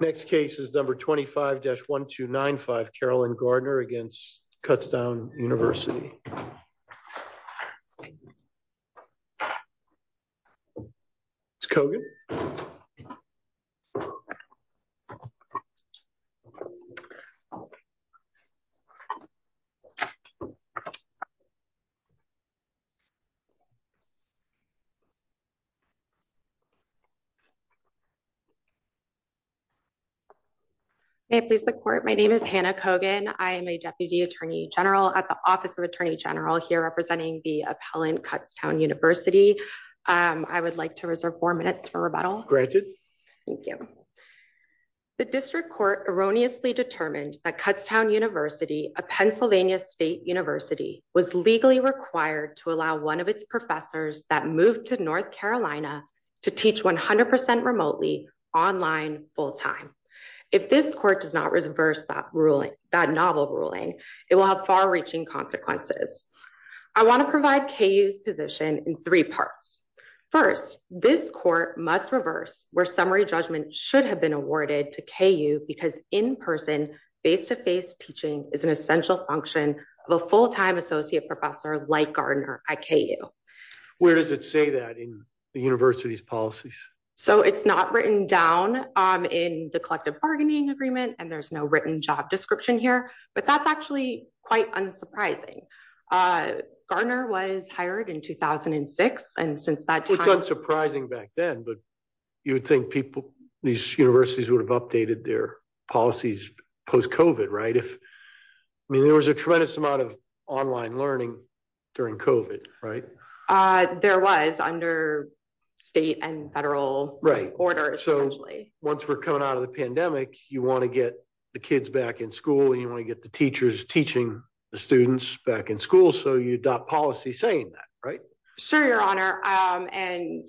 Next case is number 25-1295 Carolyn Gardner against Kutztown University. My name is Hannah Kogan. I am a Deputy Attorney General at the Office of Attorney General here representing the appellant Kutztown University. I would like to reserve four minutes for rebuttal. Thank you. The District Court erroneously determined that Kutztown University, a Pennsylvania State University, was legally required to allow one of its professors that moved to North Carolina to teach 100% remotely, online, full-time. If this Court does not reverse that novel ruling, it will have far-reaching consequences. I want to provide KU's position in three parts. First, this Court must reverse where summary judgment should have been awarded to KU because in-person, face-to-face teaching is an essential function of a full-time associate professor like Gardner at KU. Where does it say that in the University's policies? So it's not written down in the collective bargaining agreement and there's no written job description here, but that's actually quite unsurprising. Gardner was hired in 2006 and since that time... It's unsurprising back then, but you would think people, these universities would have updated their policies post-COVID, right? I mean, there was a tremendous amount of online learning during COVID, right? There was, under state and federal orders, essentially. Right. So once we're coming out of the pandemic, you want to get the kids back in school and you want to get the teachers teaching the students back in school, so you adopt policy saying that, right? Sure, Your Honor. And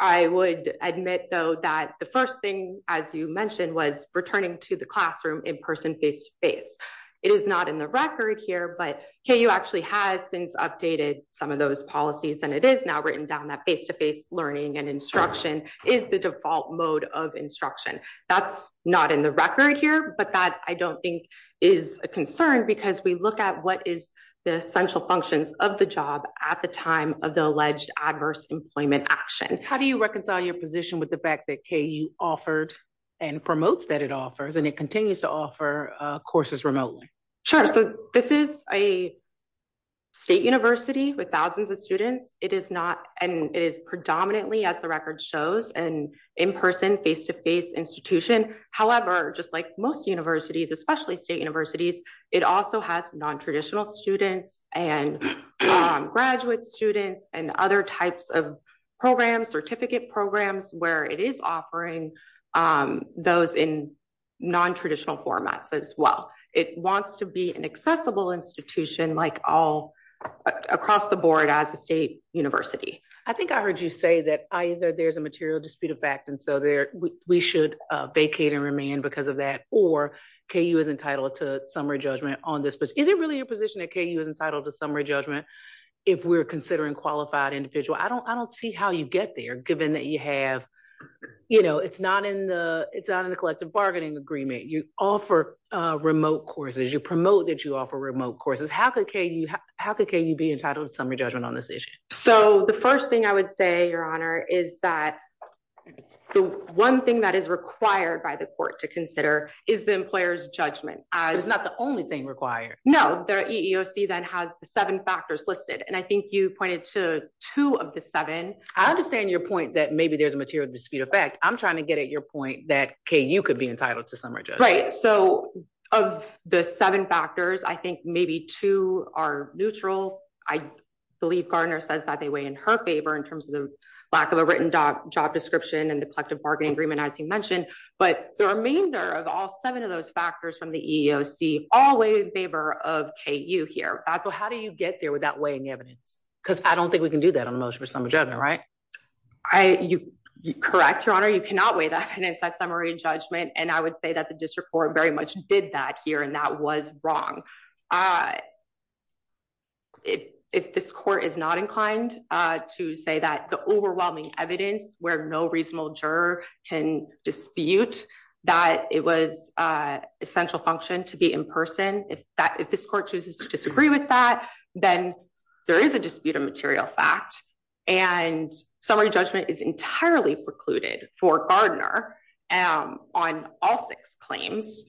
I would admit, though, that the first thing, as you mentioned, was returning to the classroom in-person, face-to-face. It is not in the record here, but KU actually has since updated some of those policies and it is now written down that face-to-face learning and instruction is the default mode of instruction. That's not in the record here, but that, I don't think, is a concern because we look at what is the essential functions of the job at the time of the alleged adverse employment action. How do you reconcile your position with the that KU offered and promotes that it offers and it continues to offer courses remotely? Sure. So this is a state university with thousands of students. It is not, and it is predominantly, as the record shows, an in-person, face-to-face institution. However, just like most universities, especially state universities, it also has non-traditional students and graduate students and other types of programs, certificate programs, where it is offering those in non-traditional formats as well. It wants to be an accessible institution like all across the board as a state university. I think I heard you say that either there's a material dispute of fact, and so we should vacate and remain because of that, or KU is entitled to summary judgment on this. But is it really your position that KU is entitled to summary judgment if we're considering qualified individuals? I don't see how you get there given that you have, you know, it's not in the collective bargaining agreement. You offer remote courses, you promote that you offer remote courses. How could KU be entitled to summary judgment on this issue? So the first thing I would say, Your Honor, is that the one thing that is required by the court to consider is the employer's judgment. It's not the only thing required. No, the EEOC then has the seven factors listed. And I think you pointed to two of the seven. I understand your point that maybe there's a material dispute of fact. I'm trying to get at your point that KU could be entitled to summary judgment. Right. So of the seven factors, I think maybe two are neutral. I believe Gardner says that they weigh in her favor in terms of the lack of a written job description and the collective bargaining agreement, as you mentioned. But the remainder of all seven of those factors from the EEOC all weigh in favor of KU here. So how do you get there with that weighing evidence? Because I don't think we can do that on a motion for summary judgment, right? You're correct, Your Honor. You cannot weigh that evidence, that summary judgment. And I would say that the district court very much did that here. And that was wrong. If this court is not inclined to say that the overwhelming evidence where no reasonable juror can dispute that it was essential function to be in person, if this court chooses to disagree with that, then there is a dispute of material fact. And summary judgment is entirely precluded for Gardner on all six claims.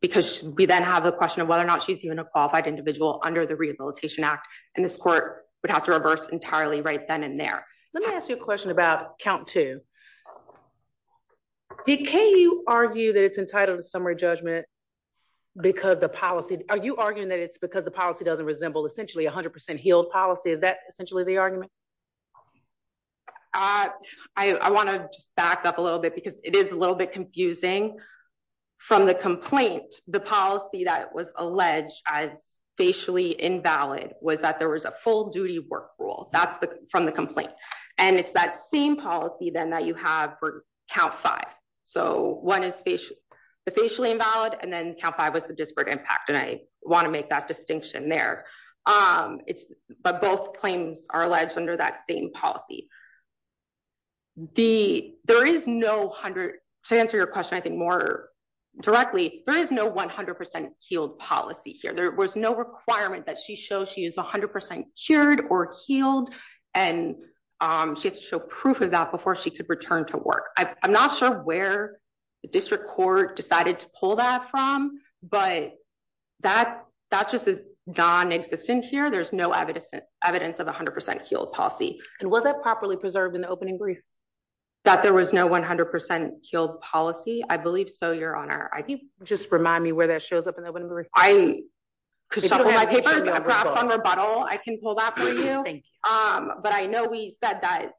Because we then have a question of whether or not she's even a qualified individual under the Rehabilitation Act. And this court would have to reverse entirely right then and there. Let me ask you a question about count two. Did KU argue that it's entitled to summary judgment? Because the policy, are you arguing that it's because the policy doesn't resemble essentially 100% healed policy? Is that essentially the argument? I want to just back up a little bit because it is a little bit confusing. From the complaint, the policy that was alleged as facially invalid was that there was a full duty work rule. That's from the complaint. And it's that same policy then that you have for count five. So one is the facially invalid and then count five was the disparate impact. And I want to make that distinction there. But both claims are alleged under that same policy. To answer your question, I think more directly, there is no 100% healed policy here. There was no requirement that she show she is 100% cured or healed. And she has to show proof of that before she could return to work. I'm not sure where the district court decided to pull that from. But that just is non-existent here. There's no evidence of 100% healed policy. And was it properly preserved in the opening brief that there was no 100% healed policy? I believe so, Your Honor. I think just remind me where that shows up in the opening brief. I could shuffle my papers, perhaps on rebuttal, I can pull that for you. But I know we said that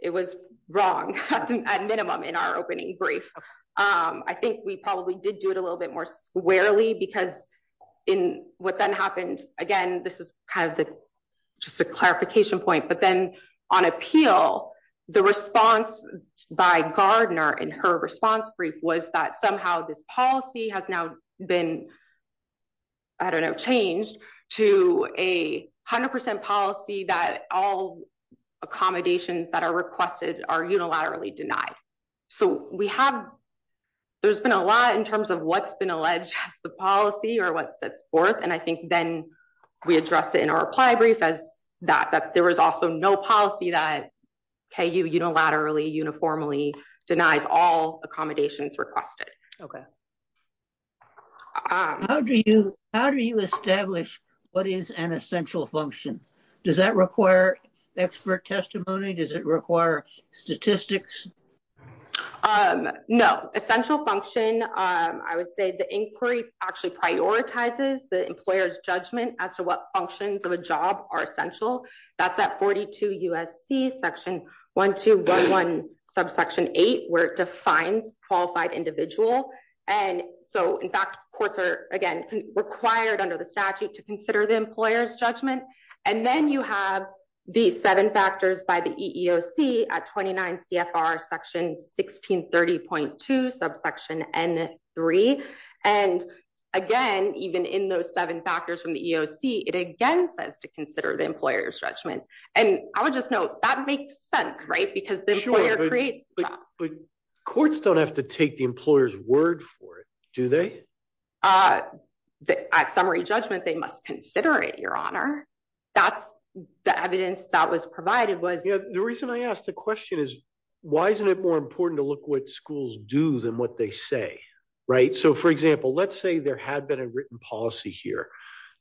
it was wrong, at minimum in our opening brief. I think we probably did do it a little bit more squarely because in what then happened, again, this is kind of the just a response brief, was that somehow this policy has now been, I don't know, changed to a 100% policy that all accommodations that are requested are unilaterally denied. So we have, there's been a lot in terms of what's been alleged as the policy or what sets forth. And I think then we address it in our reply brief as that there was also no policy that KU unilaterally, uniformly denies all accommodations requested. Okay. How do you, how do you establish what is an essential function? Does that require expert testimony? Does it require statistics? No, essential function, I would say the inquiry actually prioritizes the employer's judgment as to what functions of a job are essential. That's at 42 USC section 1211 subsection eight, where it defines qualified individual. And so in fact, courts are again, required under the statute to consider the employer's judgment. And then you have the seven factors by the EEOC at 29 CFR section 1630.2 subsection N3. And again, even in those seven factors from the EEOC, it again says to consider the employer's judgment. And I would just note that makes sense, right? Because the employer creates Courts don't have to take the employer's word for it, do they? At summary judgment, they must consider it, your honor. That's the evidence that was provided was the reason I asked the question is, why isn't it more important to look what schools do than what they say? Right? So for example, let's say there had been a written policy here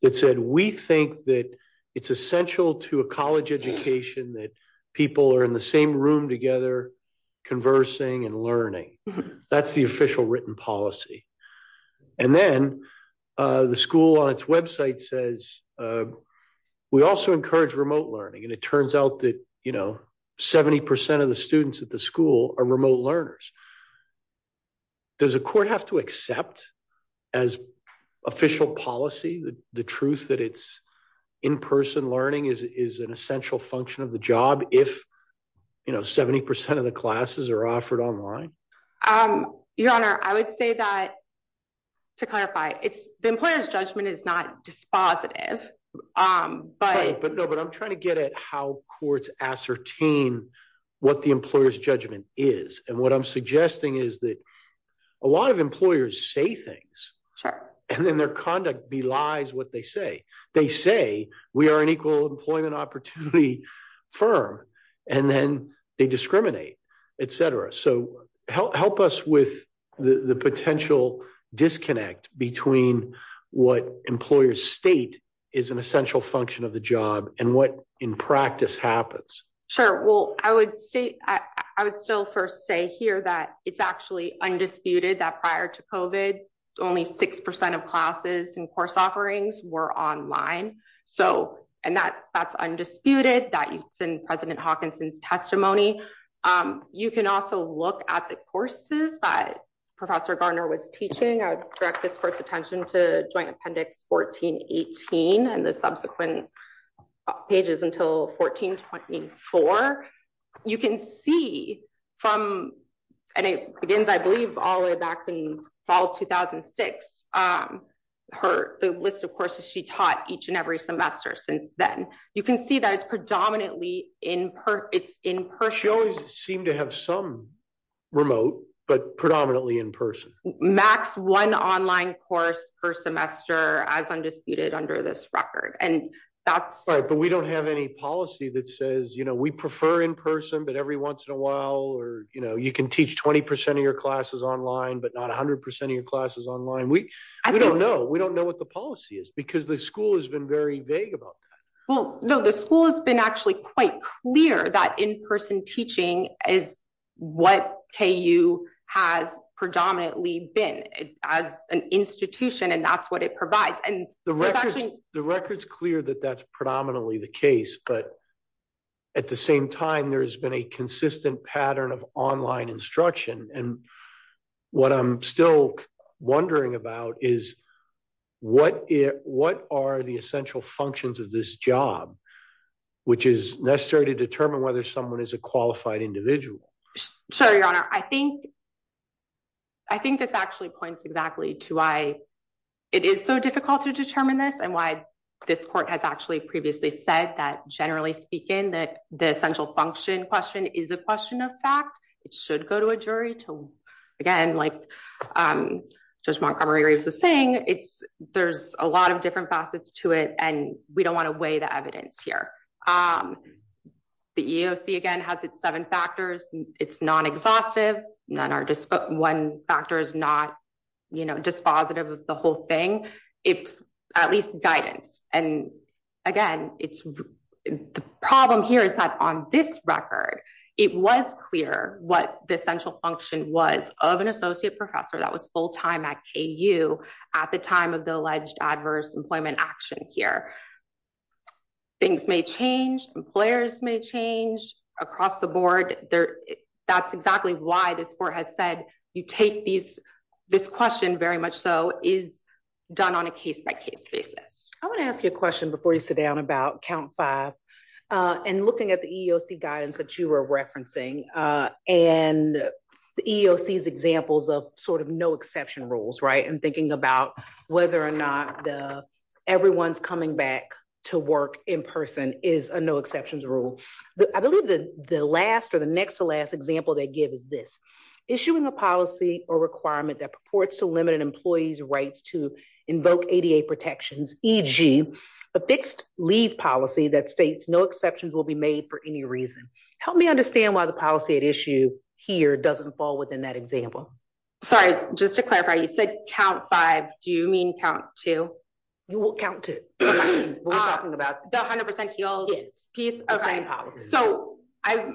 that said, we think that it's essential to a college education that people are in the same room together, conversing and learning. That's the official written policy. And then the school on its website says, uh, we also encourage remote learning. And it turns out that, you know, 70% of the students at the school are remote learners. Does a court have to accept as official policy, the truth that it's in-person learning is, is an essential function of the job. If you know, 70% of the classes are offered online. Um, your honor, I would say that to clarify it's the employer's judgment is not dispositive. Um, but no, but I'm trying to get at how courts ascertain what the employer's judgment is. And what I'm suggesting is that a lot of employers say things and then their conduct belies what they say. They say we are an equal employment opportunity firm, and then they discriminate, et cetera. So help us with the potential disconnect between what employers state is an essential function of the job and what in practice happens. Sure. Well, I would say I would still first say here that it's actually undisputed that prior to COVID only 6% of classes and course offerings were online. So, and that that's undisputed that you send president Hawkinson's testimony. Um, you can also look at the courses that professor Garner was teaching. I would direct this court's attention to joint appendix 1418 and the subsequent pages until 1424. You can see from, and it begins, I believe all the way back in fall 2006, um, her, the list of courses she taught each and every semester since then, you can see that it's predominantly in per it's in-person. She always seemed to have some remote, but predominantly in-person max one online course per semester as undisputed under this record. And that's right, but we don't have any policy that says, you know, we prefer in-person, but every once in a while, or, you know, you can teach 20% of your classes online, but not a hundred percent of your classes online. We don't know. We don't know what the policy is because the school has been very vague about that. Well, no, the school has been actually quite clear that in-person teaching is what KU has predominantly been as an institution. And that's what it provides. And the record's clear that that's predominantly the case, but at the same time, there has been a consistent pattern of online instruction. And what I'm still wondering about is what are the essential functions of this job, which is necessary to determine whether someone is a qualified individual. Sure, your honor. I think this actually points exactly to why it is so difficult to determine this and why this court has actually previously said that generally speaking, that the essential function question is a question of fact. It should go to a jury to, again, like Judge Montgomery Reeves was saying, there's a lot of different facets to it and we don't want to weigh the evidence here. The EEOC again has its seven factors. It's non-exhaustive. One factor is not, you know, dispositive of the whole thing. It's at least guidance. And again, the problem here is that on this record, it was clear what the essential function was of an associate professor that was full-time at KU at the time of the alleged adverse employment action here. Things may change. Employers may change across the board. That's exactly why this court has said you take this question very much so is done on a case-by-case basis. I want to ask you a question before you sit down about count five and looking at the EEOC guidance that you were referencing and the EEOC's examples of sort of no exception rules, right? And thinking about whether or not everyone's coming back to work in person is a no exceptions rule. I believe the last or the next to last example they give is this, issuing a policy or requirement that purports to limit an employee's rights to invoke ADA protections, e.g., a fixed leave policy that states no exceptions will be made for any reason. Help me understand why the policy at issue here doesn't fall within that example. Sorry, just to clarify, you said count five. Do you mean count two? You will count two. We're talking about the 100% heels. So I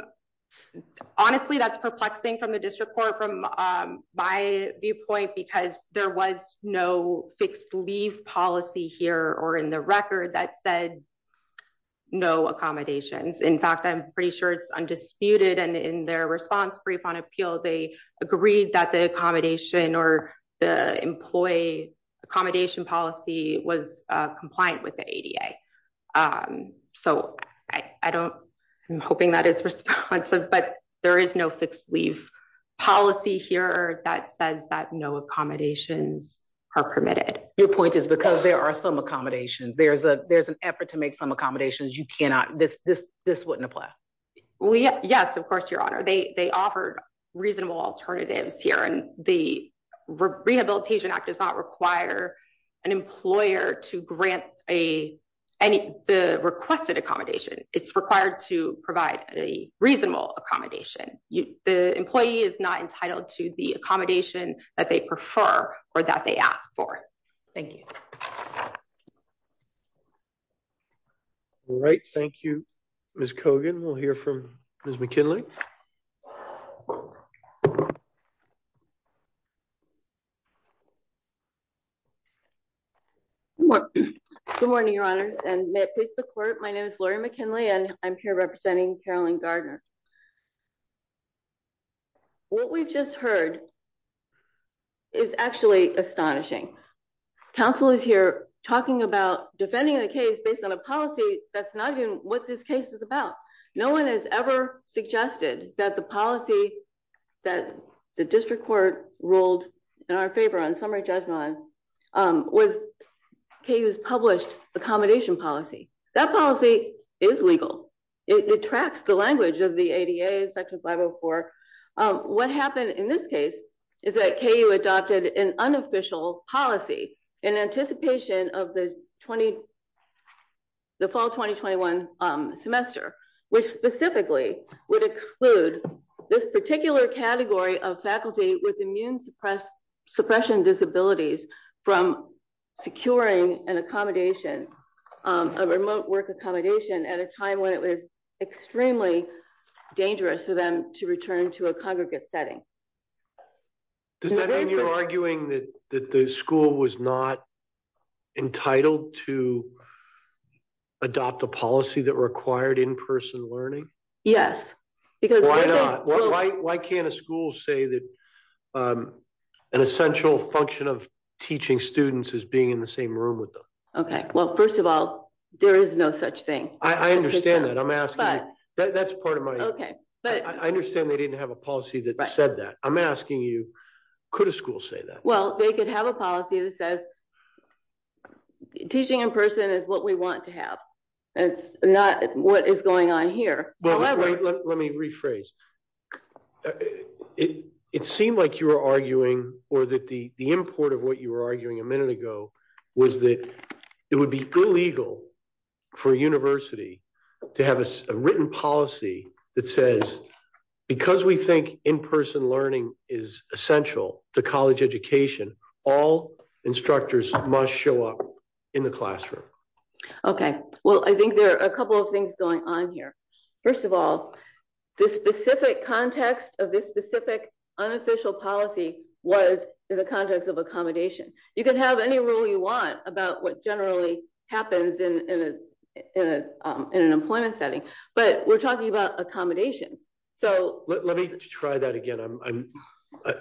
honestly, that's perplexing from the district court, from my viewpoint, because there was no leave policy here or in the record that said no accommodations. In fact, I'm pretty sure it's undisputed and in their response brief on appeal, they agreed that the accommodation or the employee accommodation policy was compliant with the ADA. So I don't, I'm hoping that is responsive, but there is no fixed leave policy here that says that no accommodations are permitted. Your point is because there are some accommodations, there's a, there's an effort to make some accommodations. You cannot, this, this, this wouldn't apply. Yes, of course, Your Honor. They, they offered reasonable alternatives here and the Rehabilitation Act does not require an employer to grant a, any, the requested accommodation. It's required to provide a reasonable accommodation. The employee is not entitled to the accommodation that they prefer or that they ask for. Thank you. Right. Thank you, Ms. Kogan. We'll hear from Ms. McKinley. Good morning, Your Honors and may it please the court. My name is Lori McKinley and I'm here representing Carolyn Gardner. What we've just heard is actually astonishing. Counsel is here talking about defending the case based on a policy that's not even what this case is about. No one has ever suggested that the policy that the district court ruled in our favor on summary judgment was KU's published accommodation policy. That policy is legal. It detracts the language of the ADA section 504. What happened in this case is that KU adopted an unofficial policy in anticipation of the fall 2021 semester, which specifically would exclude this particular category of faculty with immune suppression disabilities from securing an accommodation, a remote work accommodation at a time when it was extremely dangerous for them to return to a congregate setting. Does that mean you're arguing that the school was not entitled to adopt a policy that required in-person learning? Yes. Why not? Why can't a school say that an essential function of teaching students is being in the same room with them? Okay. Well, first of all, there is no such thing. I understand that. I'm asking, that's part of my, I understand they didn't have a policy that said that. I'm asking you, could a school say that? Well, they could have a policy that says teaching in person is what we want to have. It's not what is going on here. Let me rephrase. It seemed like you were arguing or that the import of what you were arguing a minute ago was that it would be illegal for a university to have a policy that says, because we think in-person learning is essential to college education, all instructors must show up in the classroom. Okay. Well, I think there are a couple of things going on here. First of all, the specific context of this specific unofficial policy was in the context of accommodation. You can have any rule you want about what generally happens in an employment setting, but we're talking about accommodations. Let me try that again.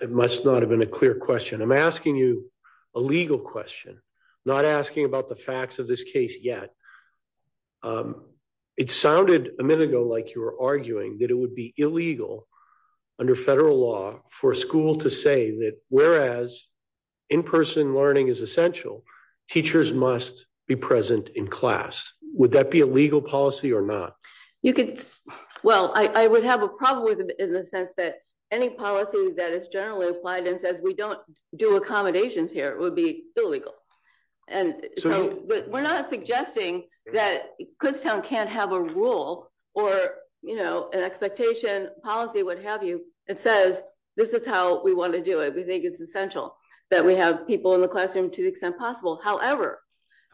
It must not have been a clear question. I'm asking you a legal question, not asking about the facts of this case yet. It sounded a minute ago like you were arguing that it would be illegal under federal law for a school to say that whereas in-person learning is essential, teachers must be present in class. Would that be a legal policy or not? Well, I would have a problem with it in the sense that any policy that is generally applied and says we don't do accommodations here would be illegal. We're not suggesting that Kutztown can't have a rule or an expectation policy, what have you, that says this is how we want to do it. We think it's essential that we have people in the classroom to the extent possible. However,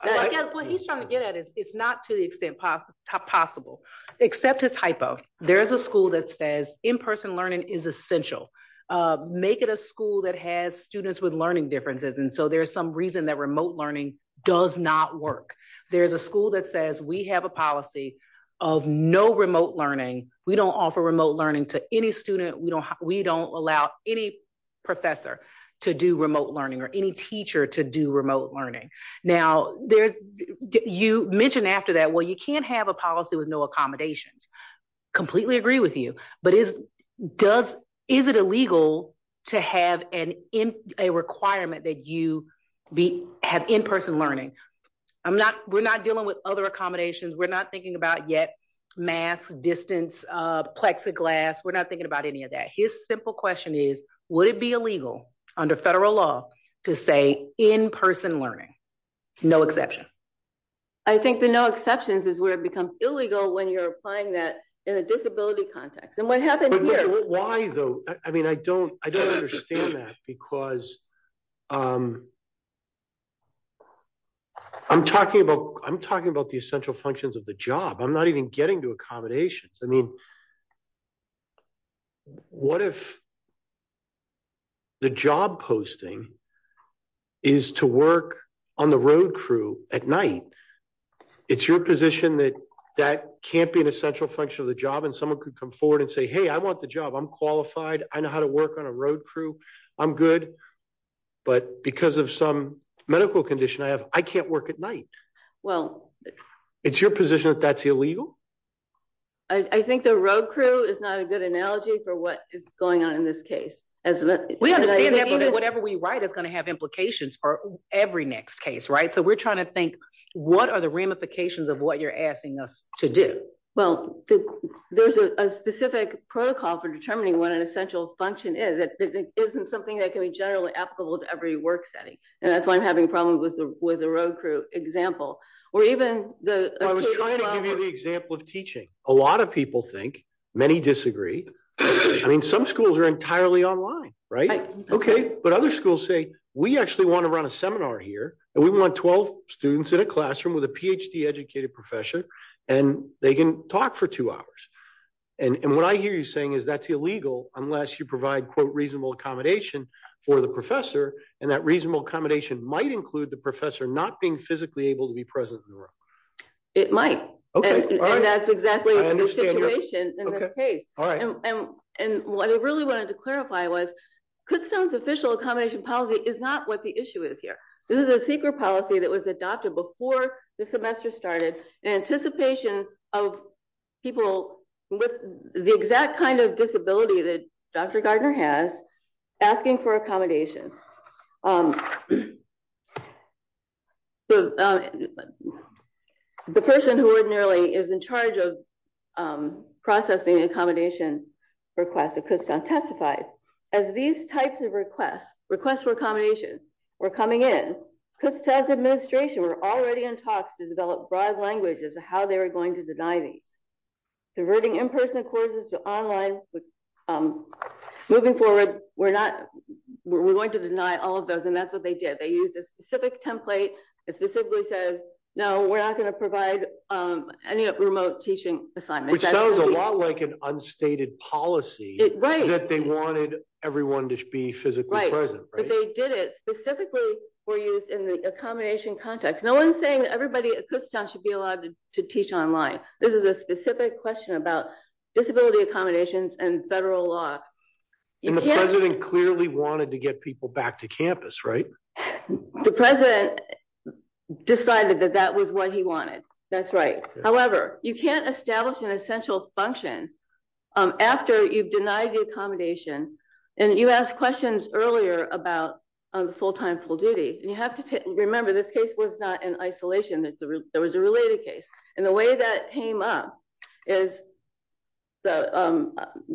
what he's trying to get at is it's not to the extent possible, except as hypo. There's a school that says in-person learning is essential. Make it a school that has students with learning differences, and so there's some reason that remote learning does not work. There's a school that says we have a policy of no remote learning. We don't offer remote learning to any student. We don't allow any professor to do remote learning or any teacher to do remote learning. Now, you mentioned after that, well, you can't have a policy with no accommodations. Completely agree with you, but is it illegal to have a requirement that you have in-person learning? We're not dealing with other accommodations. We're not thinking about yet masks, distance, plexiglass. We're not thinking about any of that. His simple question is, would it be illegal under federal law to say in-person learning? No exception. I think the no exceptions is where it becomes illegal when you're applying that in a disability context, and what happened here. Why though? I mean, I don't understand that because I'm talking about the essential functions of the job. I'm not even getting to accommodations. I mean, what if the job posting is to work on the road crew at night? It's your position that that can't be an essential function of the job, and someone could come forward and say, hey, I want the job. I'm qualified. I know how to work on a road crew. I'm good, but because of some medical condition I have, I can't work at night. Well, it's your position that that's illegal? I think there road crew is not a good analogy for what is going on in this case. We understand that whatever we write is going to have implications for every next case, right? So we're trying to think, what are the ramifications of what you're asking us to do? Well, there's a specific protocol for determining what an essential function is. It isn't something that can be generally applicable to every work setting, and that's why I'm having problems with the road crew example. Well, I was trying to give you the example of teaching. A lot of people think, many disagree. I mean, some schools are entirely online, right? Okay, but other schools say, we actually want to run a seminar here, and we want 12 students in a classroom with a PhD educated professor, and they can talk for two hours. And what I hear you saying is that's illegal unless you provide, quote, reasonable accommodation for the professor, and that reasonable accommodation might include the professor not being physically able to be present in the room. It might, and that's exactly the situation in this case. And what I really wanted to clarify was, Kutztown's official accommodation policy is not what the issue is here. This is a secret policy that was adopted before the semester started in anticipation of people with the exact kind disability that Dr. Gardner has, asking for accommodations. The person who ordinarily is in charge of processing accommodation requests at Kutztown testified, as these types of requests, requests for accommodation, were coming in, Kutztown's administration were already in talks to develop broad languages of how they were going to deny these. Converting in-person courses to online, moving forward, we're going to deny all of those, and that's what they did. They used a specific template that specifically says, no, we're not going to provide any remote teaching assignments. Which sounds a lot like an unstated policy that they wanted everyone to be physically present, right? But they did it specifically for use in the accommodation context. No one's saying that everybody at Kutztown should be allowed to teach online. This is a specific question about disability accommodations and federal law. And the president clearly wanted to get people back to campus, right? The president decided that that was what he wanted, that's right. However, you can't establish an essential function after you've denied the accommodation, and you asked questions earlier about full-time, full duty, and you have to remember this case was not in isolation, there was a related case. And the way that came up is the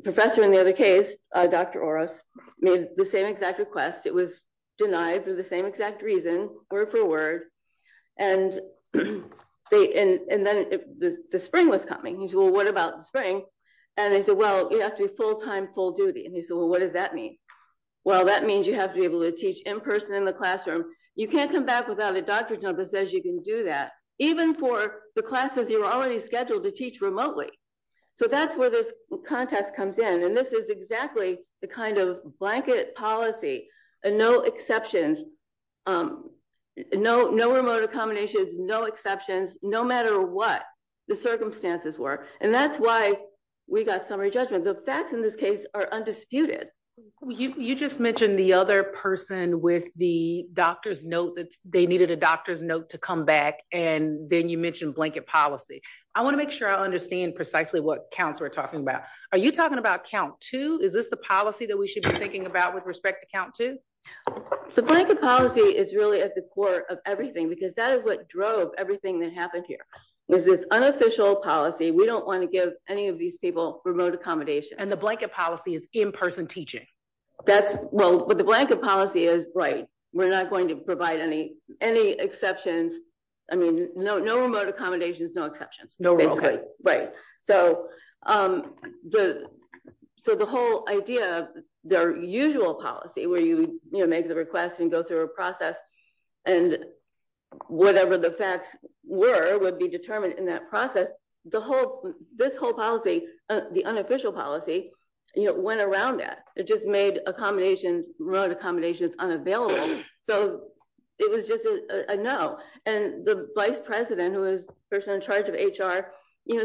professor in the other case, Dr. Oros, made the same exact request. It was denied for the same exact reason, word for word, and then the spring was coming. He said, well, what about the spring? And they said, well, you have to be full-time, full duty. And he said, well, what does that mean? Well, that means you have to be able to teach in person in the classroom. You can't come back without a doctor's note that says you can do that, even for the classes you're already scheduled to teach remotely. So that's where this contest comes in. And this is exactly the kind of blanket policy, and no exceptions, no remote accommodations, no exceptions, no matter what the circumstances were. And that's why we got summary judgment. The facts in this case are undisputed. You just mentioned the other person with the doctor's note that they needed a doctor's note to come back. And then you mentioned blanket policy. I want to make sure I understand precisely what counts we're talking about. Are you talking about count two? Is this the policy that we should be thinking about with respect to count two? The blanket policy is really at the core of everything, because that is what drove everything that happened here, was this unofficial policy. We don't want to give any of these people remote accommodations. And the blanket policy is in-person teaching. Well, but the blanket policy is, right, we're not going to provide any exceptions. I mean, no remote accommodations, no exceptions, basically. So the whole idea of their usual policy, where you make the request and go through a process, and whatever the facts were would determine in that process, this whole policy, the unofficial policy, went around that. It just made accommodations, remote accommodations, unavailable. So it was just a no. And the vice president, who was the person in charge of HR,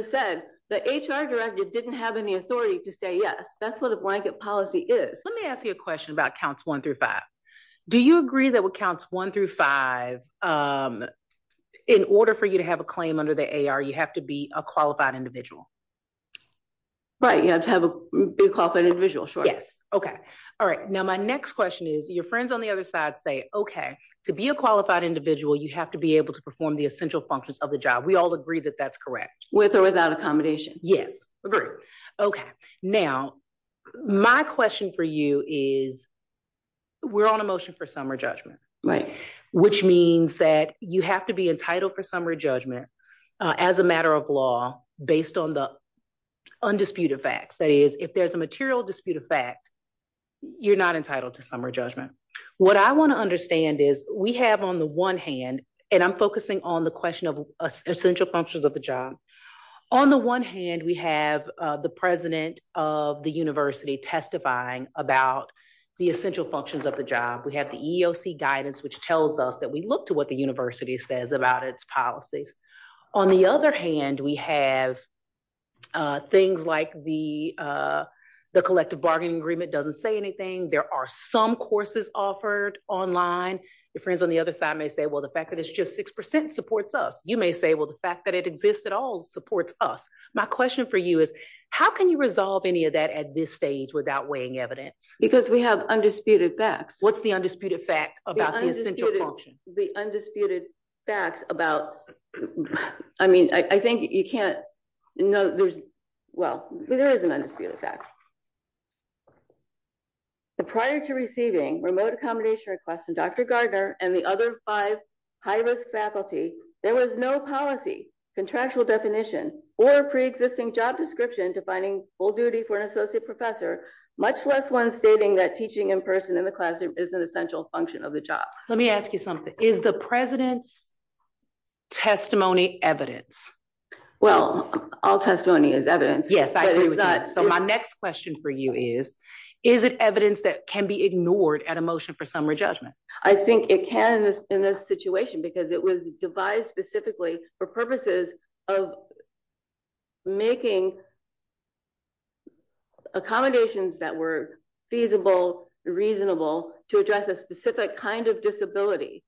said the HR director didn't have any authority to say yes. That's what a blanket policy is. Let me ask you a question about counts one through five. Do you agree that what counts one through five, in order for you to have a claim under the AR, you have to be a qualified individual? Right, you have to be a qualified individual, sure. Yes. Okay. All right. Now, my next question is, your friends on the other side say, okay, to be a qualified individual, you have to be able to perform the essential functions of the job. We all agree that that's correct. With or without accommodation. Yes. Agree. Okay. Now, my question for you is, we're on a motion for summary judgment. Right. Which means that you have to be entitled for summary judgment, as a matter of law, based on the undisputed facts. That is, if there's a material dispute of fact, you're not entitled to summary judgment. What I want to understand is, we have on the one hand, and I'm focusing on the question of essential functions of the job. On the one hand, we have the president of the university testifying about the essential functions of the job. We have the EOC guidance, which tells us that we look to what the university says about its policies. On the other hand, we have things like the collective bargaining agreement doesn't say anything. There are some courses offered online. Your friends on the other side may say, well, the fact that it's just 6% supports us. You may say, well, the fact that it exists at all supports us. My question for you is, how can you resolve any of that at this stage without weighing evidence? Because we have undisputed facts. What's the undisputed fact about the essential function? The undisputed facts about, I mean, I think you can't, no, there's, well, there is an undisputed fact. Prior to receiving remote accommodation requests from Dr. Gardner and the other five high-risk faculty, there was no policy, contractual definition, or pre-existing job description defining full duty for an associate professor, much less one stating that teaching in person in the classroom is an essential function of the job. Let me ask you something. Is the president's testimony evidence? Well, all testimony is evidence. Yes, I agree with you. So my next question for you is, is it evidence that can be ignored at a motion for summary judgment? I think it can in this situation because it was devised specifically for purposes of making accommodations that were feasible, reasonable to address a specific kind of disability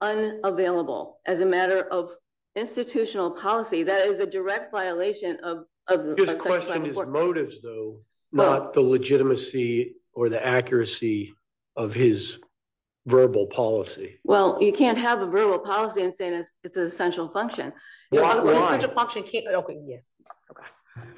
unavailable as a matter of institutional policy. That is a direct violation of- I'm just questioning his motives, though, not the legitimacy or the accuracy of his verbal policy. Well, you can't have a verbal policy and say it's an essential function. Well, I'm- An essential function can't, okay, yes, okay.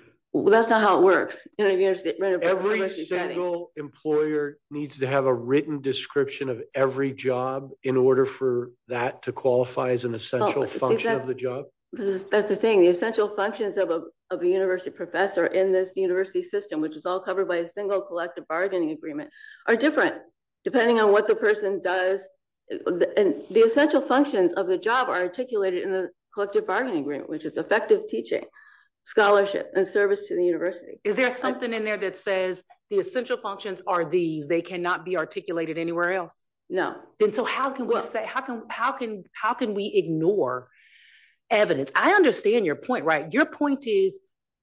That's not how it works. You know what I mean? Every single employer needs to have a written description of every job in order for that to qualify as an essential function of the job. That's the thing. The essential functions of a university professor in this university system, which is all covered by a single collective bargaining agreement, are different depending on what the person does. And the essential functions of the job are articulated in the collective bargaining agreement, which is effective teaching, scholarship, and service to the university. Is there something in there that says the essential functions are these, they cannot be articulated anywhere else? No. Then so how can we say, how can we ignore evidence? I understand your point, right? Your point is,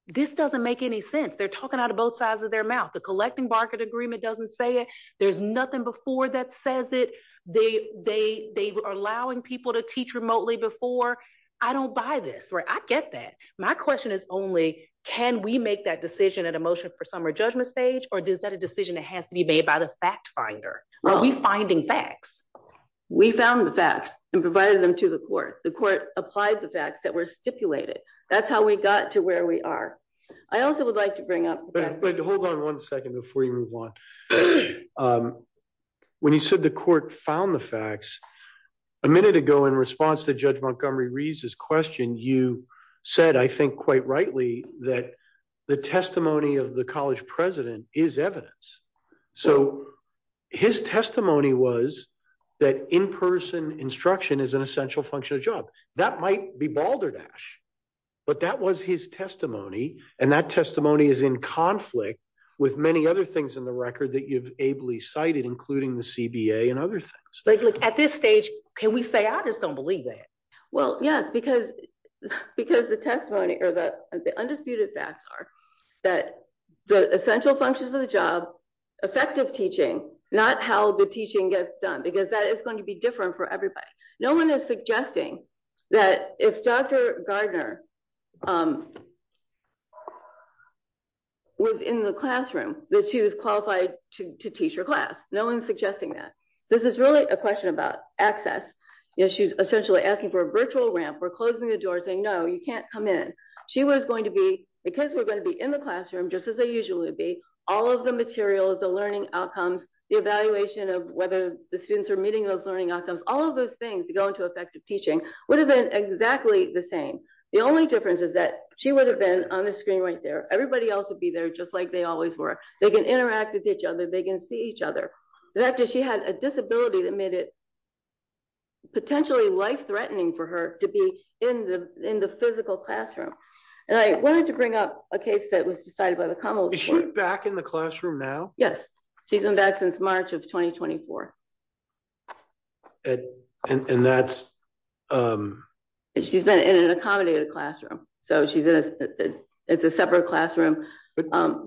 this doesn't make any sense. They're talking out of both sides of their mouth. The collective bargaining agreement doesn't say it. There's nothing before that says it. They are allowing people to teach remotely before. I don't buy this, right? I get that. My question is only, can we make that decision at a motion for summary judgment stage, or is that a decision that has to be made by the fact finder? Are we finding facts? We found the facts and provided them to the court. The court applied the facts that were stipulated. That's how we got to where we are. I also would like to bring up- Wait, hold on one second before you move on. When you said the court found the facts, a minute ago in response to Judge Montgomery Reese's question, you said, I think quite rightly, that the testimony of the college president is evidence. His testimony was that in-person instruction is an essential function of job. That might be balderdash, but that was his testimony. That testimony is in conflict with many other things in the record that you've ably cited, including the CBA and other things. At this stage, can we say, I just don't believe that? Yes, because the undisputed facts are that the essential functions of the job, effective teaching, not how the teaching gets done, because that is going to be different for everybody. No one is suggesting that if Dr. Gardner was in the classroom, that she was qualified to teach her class. No one's suggesting that. This is really a virtual ramp. We're closing the door saying, no, you can't come in. She was going to be, because we're going to be in the classroom, just as they usually would be, all of the materials, the learning outcomes, the evaluation of whether the students are meeting those learning outcomes, all of those things that go into effective teaching would have been exactly the same. The only difference is that she would have been on the screen right there. Everybody else would be there just like they always were. They can interact with each other. They can see each other. After she had a disability that made it potentially life-threatening for her to be in the physical classroom. I wanted to bring up a case that was decided by the Commonwealth. Is she back in the classroom now? Yes. She's been back since March of 2024. And that's- She's been in an accommodated classroom. It's a separate classroom.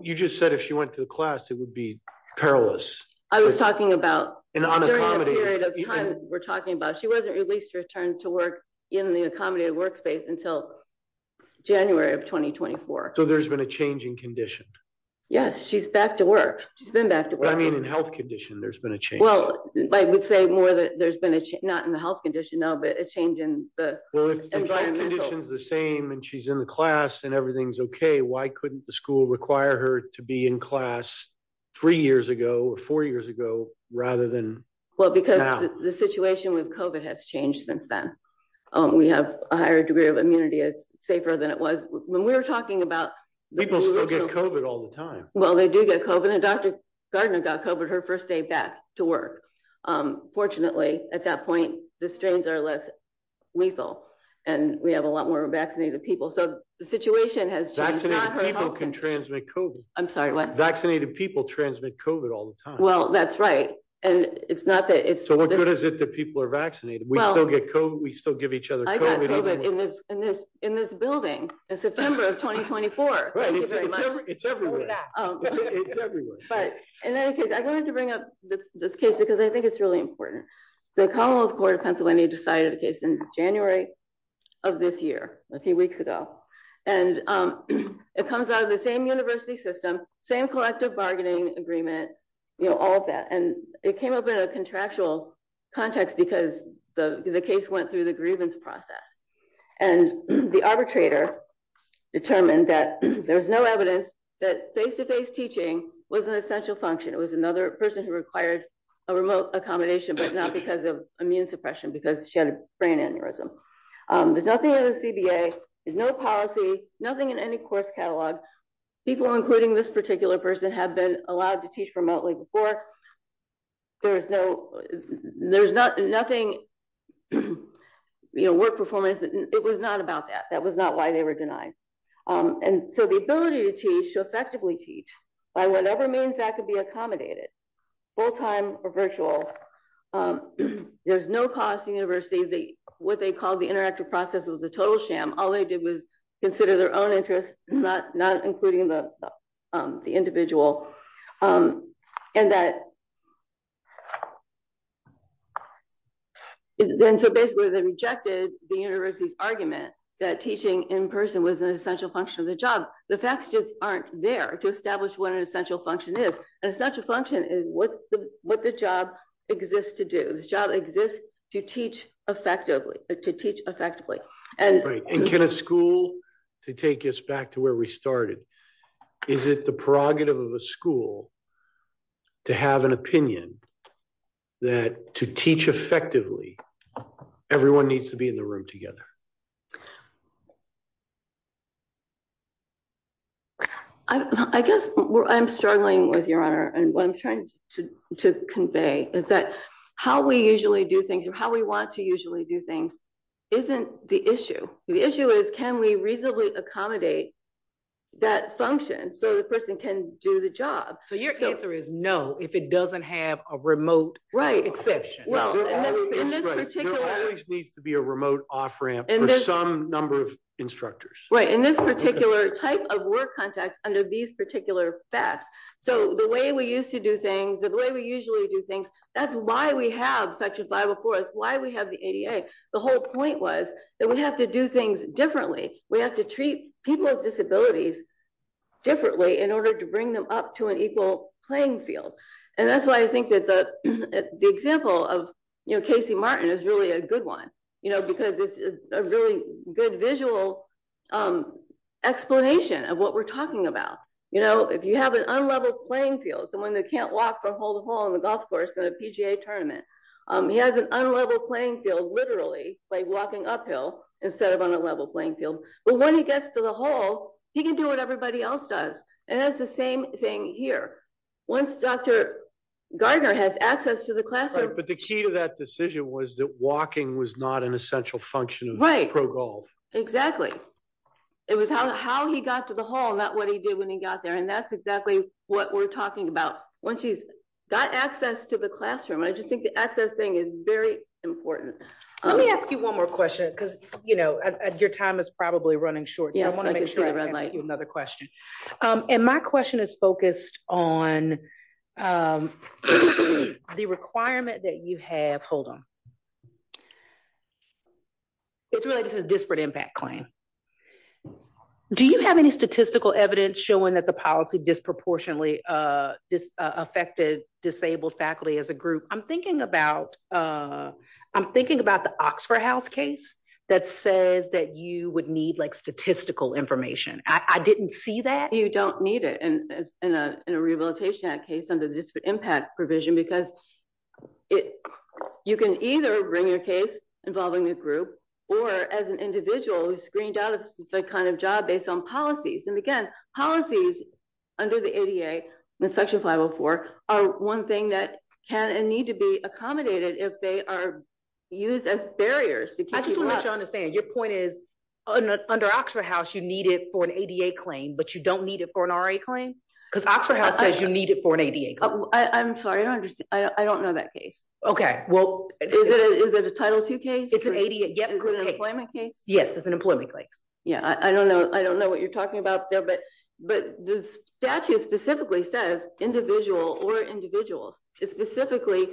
You just said if she went to the class, it would be perilous. I was talking about, during the period of time we're talking about, she wasn't released to return to work in the accommodated workspace until January of 2024. So there's been a change in condition. Yes. She's back to work. She's been back to work. I mean, in health condition, there's been a change. Well, I would say more that there's been a change, not in the health condition now, but a change in the- Well, if the condition's the same and she's in the class and everything's okay, why couldn't the school require her to be in class three years ago or four years ago rather than now? Well, because the situation with COVID has changed since then. We have a higher degree of immunity. It's safer than it was when we were talking about- People still get COVID all the time. Well, they do get COVID. And Dr. Gardner got COVID her first day back to work. Fortunately, at that point, the strains are less lethal, and we have a lot more vaccinated people. So the situation has changed, not her health condition. Vaccinated people can transmit COVID. I'm sorry, what? Vaccinated people transmit COVID all the time. Well, that's right. And it's not that it's- So what good is it that people are vaccinated? We still give each other COVID- I got COVID in this building in September of 2024. Thank you very much. It's everywhere. It's everywhere. But in any case, I wanted to bring up this case because I think it's really important. The Commonwealth Court of Pennsylvania decided a case in January of this year, a few weeks ago. And it comes out of the same university system, same collective bargaining agreement, all of that. And it came up in a contractual context because the case went through the grievance process. And the arbitrator determined that there was no evidence that face-to-face teaching was an essential function. It was another person who required a remote accommodation, but not because of immune suppression, because she had a brain aneurysm. There's nothing in the CBA, there's no policy, nothing in any course catalog. People, including this particular person, have been allowed to teach remotely before. There's no- There's nothing- You know, work performance, it was not about that. That was not why they were denied. And so the ability to teach, to effectively teach by whatever means that could be accommodated, full-time or virtual, there's no cost to the university. What they called the interactive process was a total sham. All they did was consider their own interests, not including the individual. And so basically, they rejected the university's argument that teaching in person was an essential function of the job. The facts just aren't there to establish what an essential function is. An essential function is what the job exists to do. The job exists to teach effectively, to teach effectively. Right. And can a school, to take us back to where we started, is it the prerogative of a school to have an opinion that to teach effectively, everyone needs to be in the room together? I guess I'm struggling with your honor. And what I'm trying to convey is that how we usually do things or how we want to usually do things isn't the issue. The issue is, can we reasonably accommodate that function so the person can do the job? So your answer is no, if it doesn't have a remote exception. There always needs to be a remote off-ramp for some number of instructors. Right. In this particular type of work context under these particular facts. So the way we used to do things, the way we usually do things, that's why we have Section 504. That's why we have the ADA. The whole point was that we have to do things differently. We have to treat people with disabilities differently in order to bring them up to an equal playing field. And that's why I think the example of Casey Martin is really a good one, because it's a really good visual explanation of what we're talking about. If you have an unlevel playing field, someone that can't walk from hole to hole on the golf course in a PGA tournament, he has an unlevel playing field, literally, by walking uphill instead of on a level playing field. But when he gets to the hole, he can do what everybody else does. And that's the same thing here. Once Dr. Gardner has access to the classroom... But the key to that decision was that walking was not an essential function of pro golf. Right. Exactly. It was how he got to the hole, not what he did when he got there. And that's exactly what we're talking about. Once he's got access to the classroom, I just think the access thing is very important. Let me ask you one more question, because your time is probably running short. And my question is focused on the requirement that you have... Hold on. It's really just a disparate impact claim. Do you have any statistical evidence showing that the policy disproportionately affected disabled faculty as a group? I'm thinking about the Oxford House case that says that you would need statistical information. I didn't see that. You don't need it in a Rehabilitation Act case under the disparate impact provision because you can either bring your case involving the group or as an individual who's screened out of a specific kind of job based on policies. And again, policies under the ADA in Section 504 are one thing that can and need to be accommodated if they are used as barriers. I just want to make sure I understand. Your point is under Oxford House, you need it for an ADA claim, but you don't need it for an RA claim? Because Oxford House says you need it for an ADA claim. I'm sorry. I don't know that case. Okay. Well, is it a Title II case? It's an ADA group case. Employment case? Yes. It's an employment case. Yeah. I don't know what you're talking about there, but the statute specifically says individual or individuals. It specifically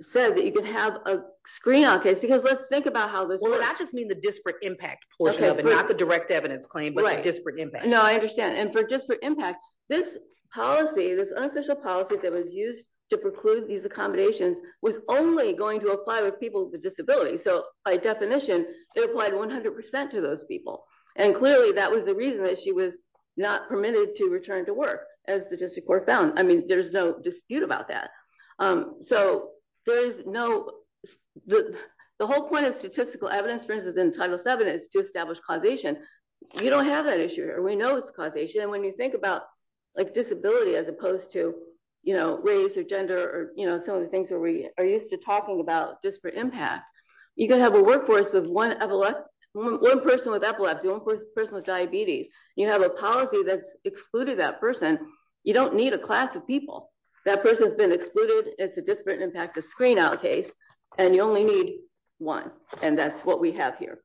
says that you can have a screen out case because let's think about how this works. Well, that just means the disparate impact portion of it, not the direct evidence claim, but the disparate impact. No, I understand. And for disparate impact, this policy, this unofficial policy that was used to preclude these accommodations was only going to apply with people with disabilities. So by definition, it applied 100% to those people. And clearly that was the reason that she was permitted to return to work as the district court found. I mean, there's no dispute about that. The whole point of statistical evidence, for instance, in Title VII is to establish causation. You don't have that issue here. We know it's causation. And when you think about disability as opposed to race or gender or some of the things where we are used to talking about disparate impact, you can have a workforce with one person with epilepsy, one person with diabetes. You have a policy that's excluded that person. You don't need a class of people. That person has been excluded. It's a disparate impact, a screen out case, and you only need one. And that's what we have here.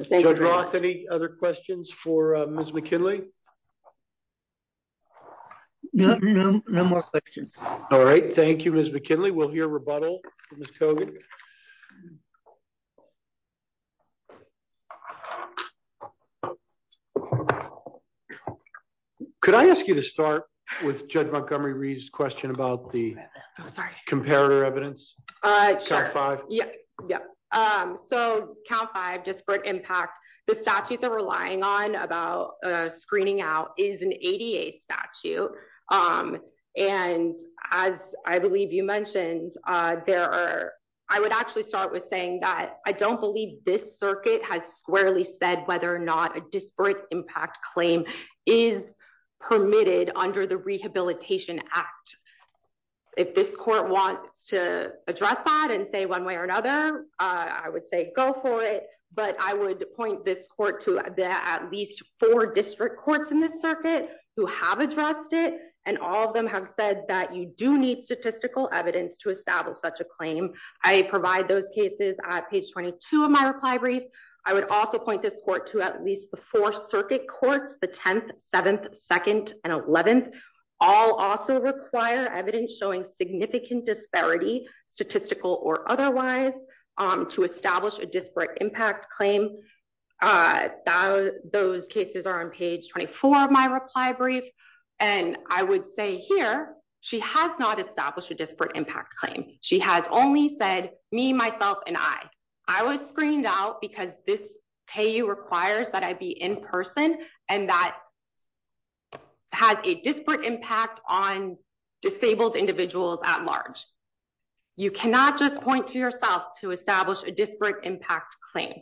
Judge Roth, any other questions for Ms. McKinley? No, no, no more questions. All right. Thank you, Ms. McKinley. We'll hear rebuttal from Ms. Kogan. All right. Could I ask you to start with Judge Montgomery-Reed's question about the comparator evidence? Count five. So count five, disparate impact. The statute that we're relying on about screening out is an ADA statute. And as I believe you mentioned, I would actually start with saying that I don't believe this circuit has squarely said whether or not a disparate impact claim is permitted under the Rehabilitation Act. If this court wants to address that and say one way or another, I would say go for it. But I would point this court to at least four district courts in this circuit who have addressed it. And all of them have said that you do need statistical evidence to establish such a claim. I provide those cases at page 22 of my reply brief. I would also point this court to at least the four circuit courts, the 10th, 7th, 2nd, and 11th. All also require evidence showing significant disparity, statistical or otherwise, to establish a disparate impact claim. Those cases are on page 24 of my reply brief. And I would say here, she has not established a disparate impact claim. She has only said me, myself, and I. I was screened out because this payee requires that I be in person and that has a disparate impact on disabled individuals at large. You cannot just point to yourself to establish a disparate impact claim.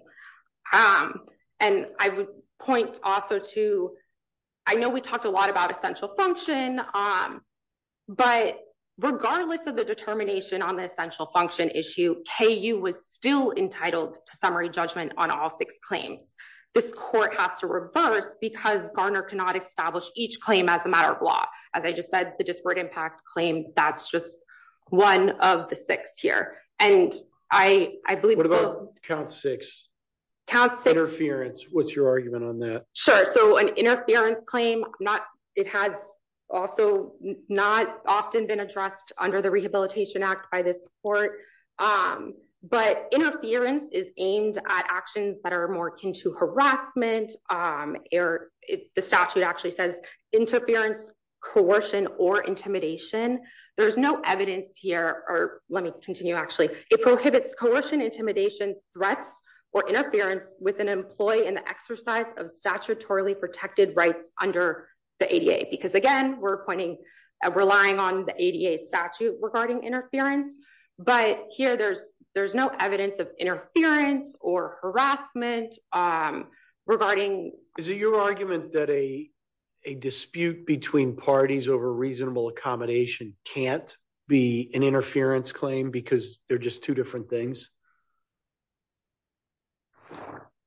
And I would point also to, I know we talked a lot about essential function, but regardless of the determination on the essential function issue, KU was still entitled to summary judgment on all six claims. This court has to reverse because Garner cannot establish each claim as a matter of law. As I just said, the disparate impact claim, that's just one of the six here. And I believe- What about count six? Count six- Interference. What's your argument on that? Sure. So an interference claim, it has also not often been addressed under the Rehabilitation Act by this court. But interference is aimed at actions that are more akin to harassment. The statute actually says, interference, coercion, or intimidation. There's no evidence here, let me continue actually. It prohibits coercion, intimidation, threats, or interference with an employee in the exercise of statutorily protected rights under the ADA. Because again, we're relying on the ADA statute regarding interference, but here there's no evidence of interference or harassment regarding- Is it your argument that a dispute between parties over reasonable accommodation can't be an interference claim because they're just two different things?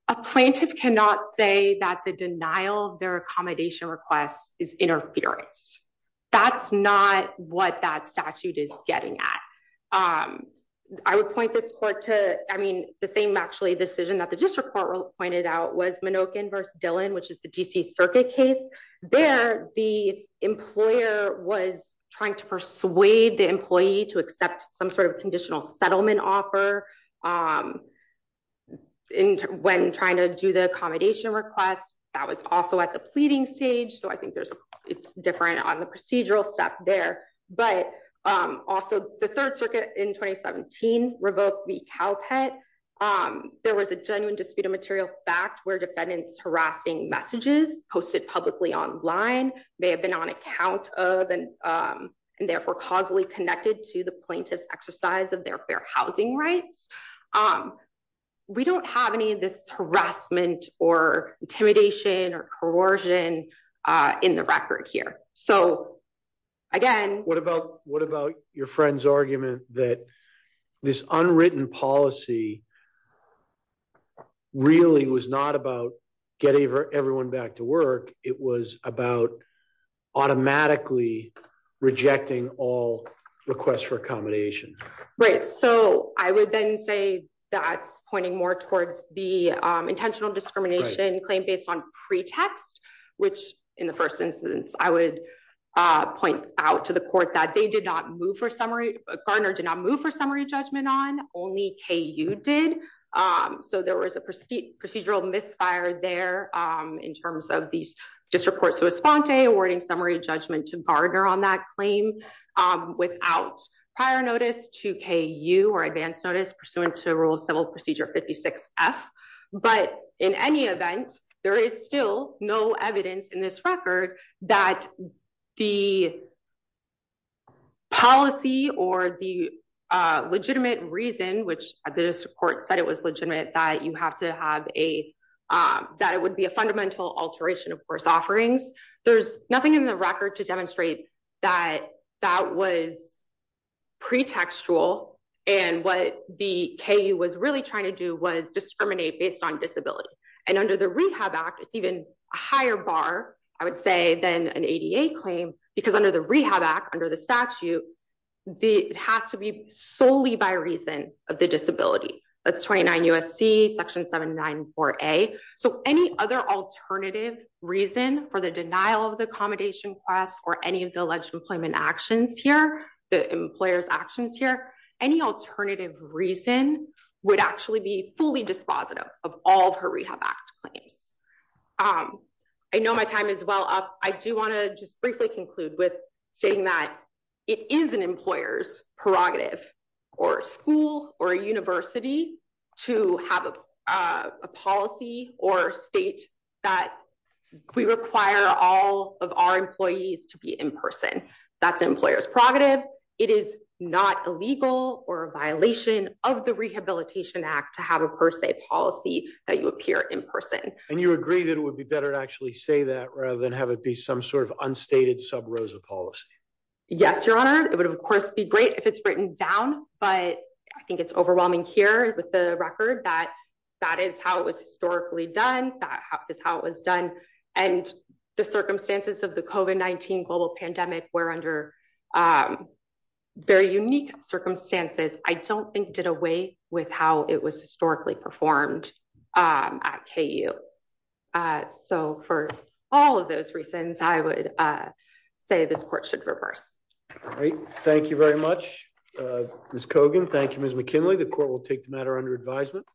A plaintiff cannot say that the denial of their accommodation request is interference. That's not what that statute is getting at. I would point this court to, I mean, the same actually decision that the district court pointed out was Minokin versus Dillon, which is the DC Circuit case. There, the employer was trying to persuade the employee to accept some sort of conditional settlement offer when trying to do the accommodation request. That was also at the pleading stage, so I think it's different on the procedural step there. But also the Third Circuit in 2017 revoked the Cow Pet. There was a genuine dispute of material fact where defendants harassing messages posted publicly online may have been on account of and therefore causally connected to the plaintiff's exercise of their fair housing rights. We don't have any of this harassment or intimidation or coercion in the record here. So again- What about your friend's argument that this unwritten policy really was not about getting everyone back to work, it was about automatically rejecting all requests for accommodation? Right, so I would then say that's pointing more towards the intentional discrimination claim based on pretext, which in the first instance I would point out to the court that they did not move for summary, Gardner did not move for summary judgment on, only KU did. So there was a procedural misfire there in terms of these disreports to Esponte awarding summary judgment to Gardner on that claim without prior notice to KU or advance notice pursuant to Rule of Civil Procedure 56F. But in any event, there is still no evidence in this record that the policy or the legitimate reason which the court said it was legitimate that you have to have a, that it would be a fundamental alteration of course offerings. There's nothing in the record to demonstrate that that was pretextual and what the KU was really trying to do was discriminate based on disability. And under the Rehab Act, it's even a higher bar I would say than an ADA claim because under the Rehab Act, under the statute, it has to be solely by reason of the disability. That's 29 USC section 794A. So any other alternative reason for the denial of the accommodation class or any of the alleged employment actions here, the employer's actions here, any alternative reason would actually be fully dispositive of all of her Rehab Act claims. I know my time is well up. I do want to just briefly conclude with saying that it is an employer's prerogative or school or university to have a policy or state that we require all of our employees to be in person. That's employer's prerogative. It is not illegal or a violation of the Rehabilitation Act to have a per se policy that you appear in person. And you agree that it would be better to actually say that rather than have it be some sort of sub-Rosa policy. Yes, your honor. It would of course be great if it's written down, but I think it's overwhelming here with the record that that is how it was historically done. That is how it was done. And the circumstances of the COVID-19 global pandemic were under very unique circumstances. I don't think did away with how it was historically performed at KU. Uh, so for all of those reasons, I would, uh, say this court should reverse. All right. Thank you very much, uh, Ms. Cogan. Thank you, Ms. McKinley. The court will take the matter under advisement.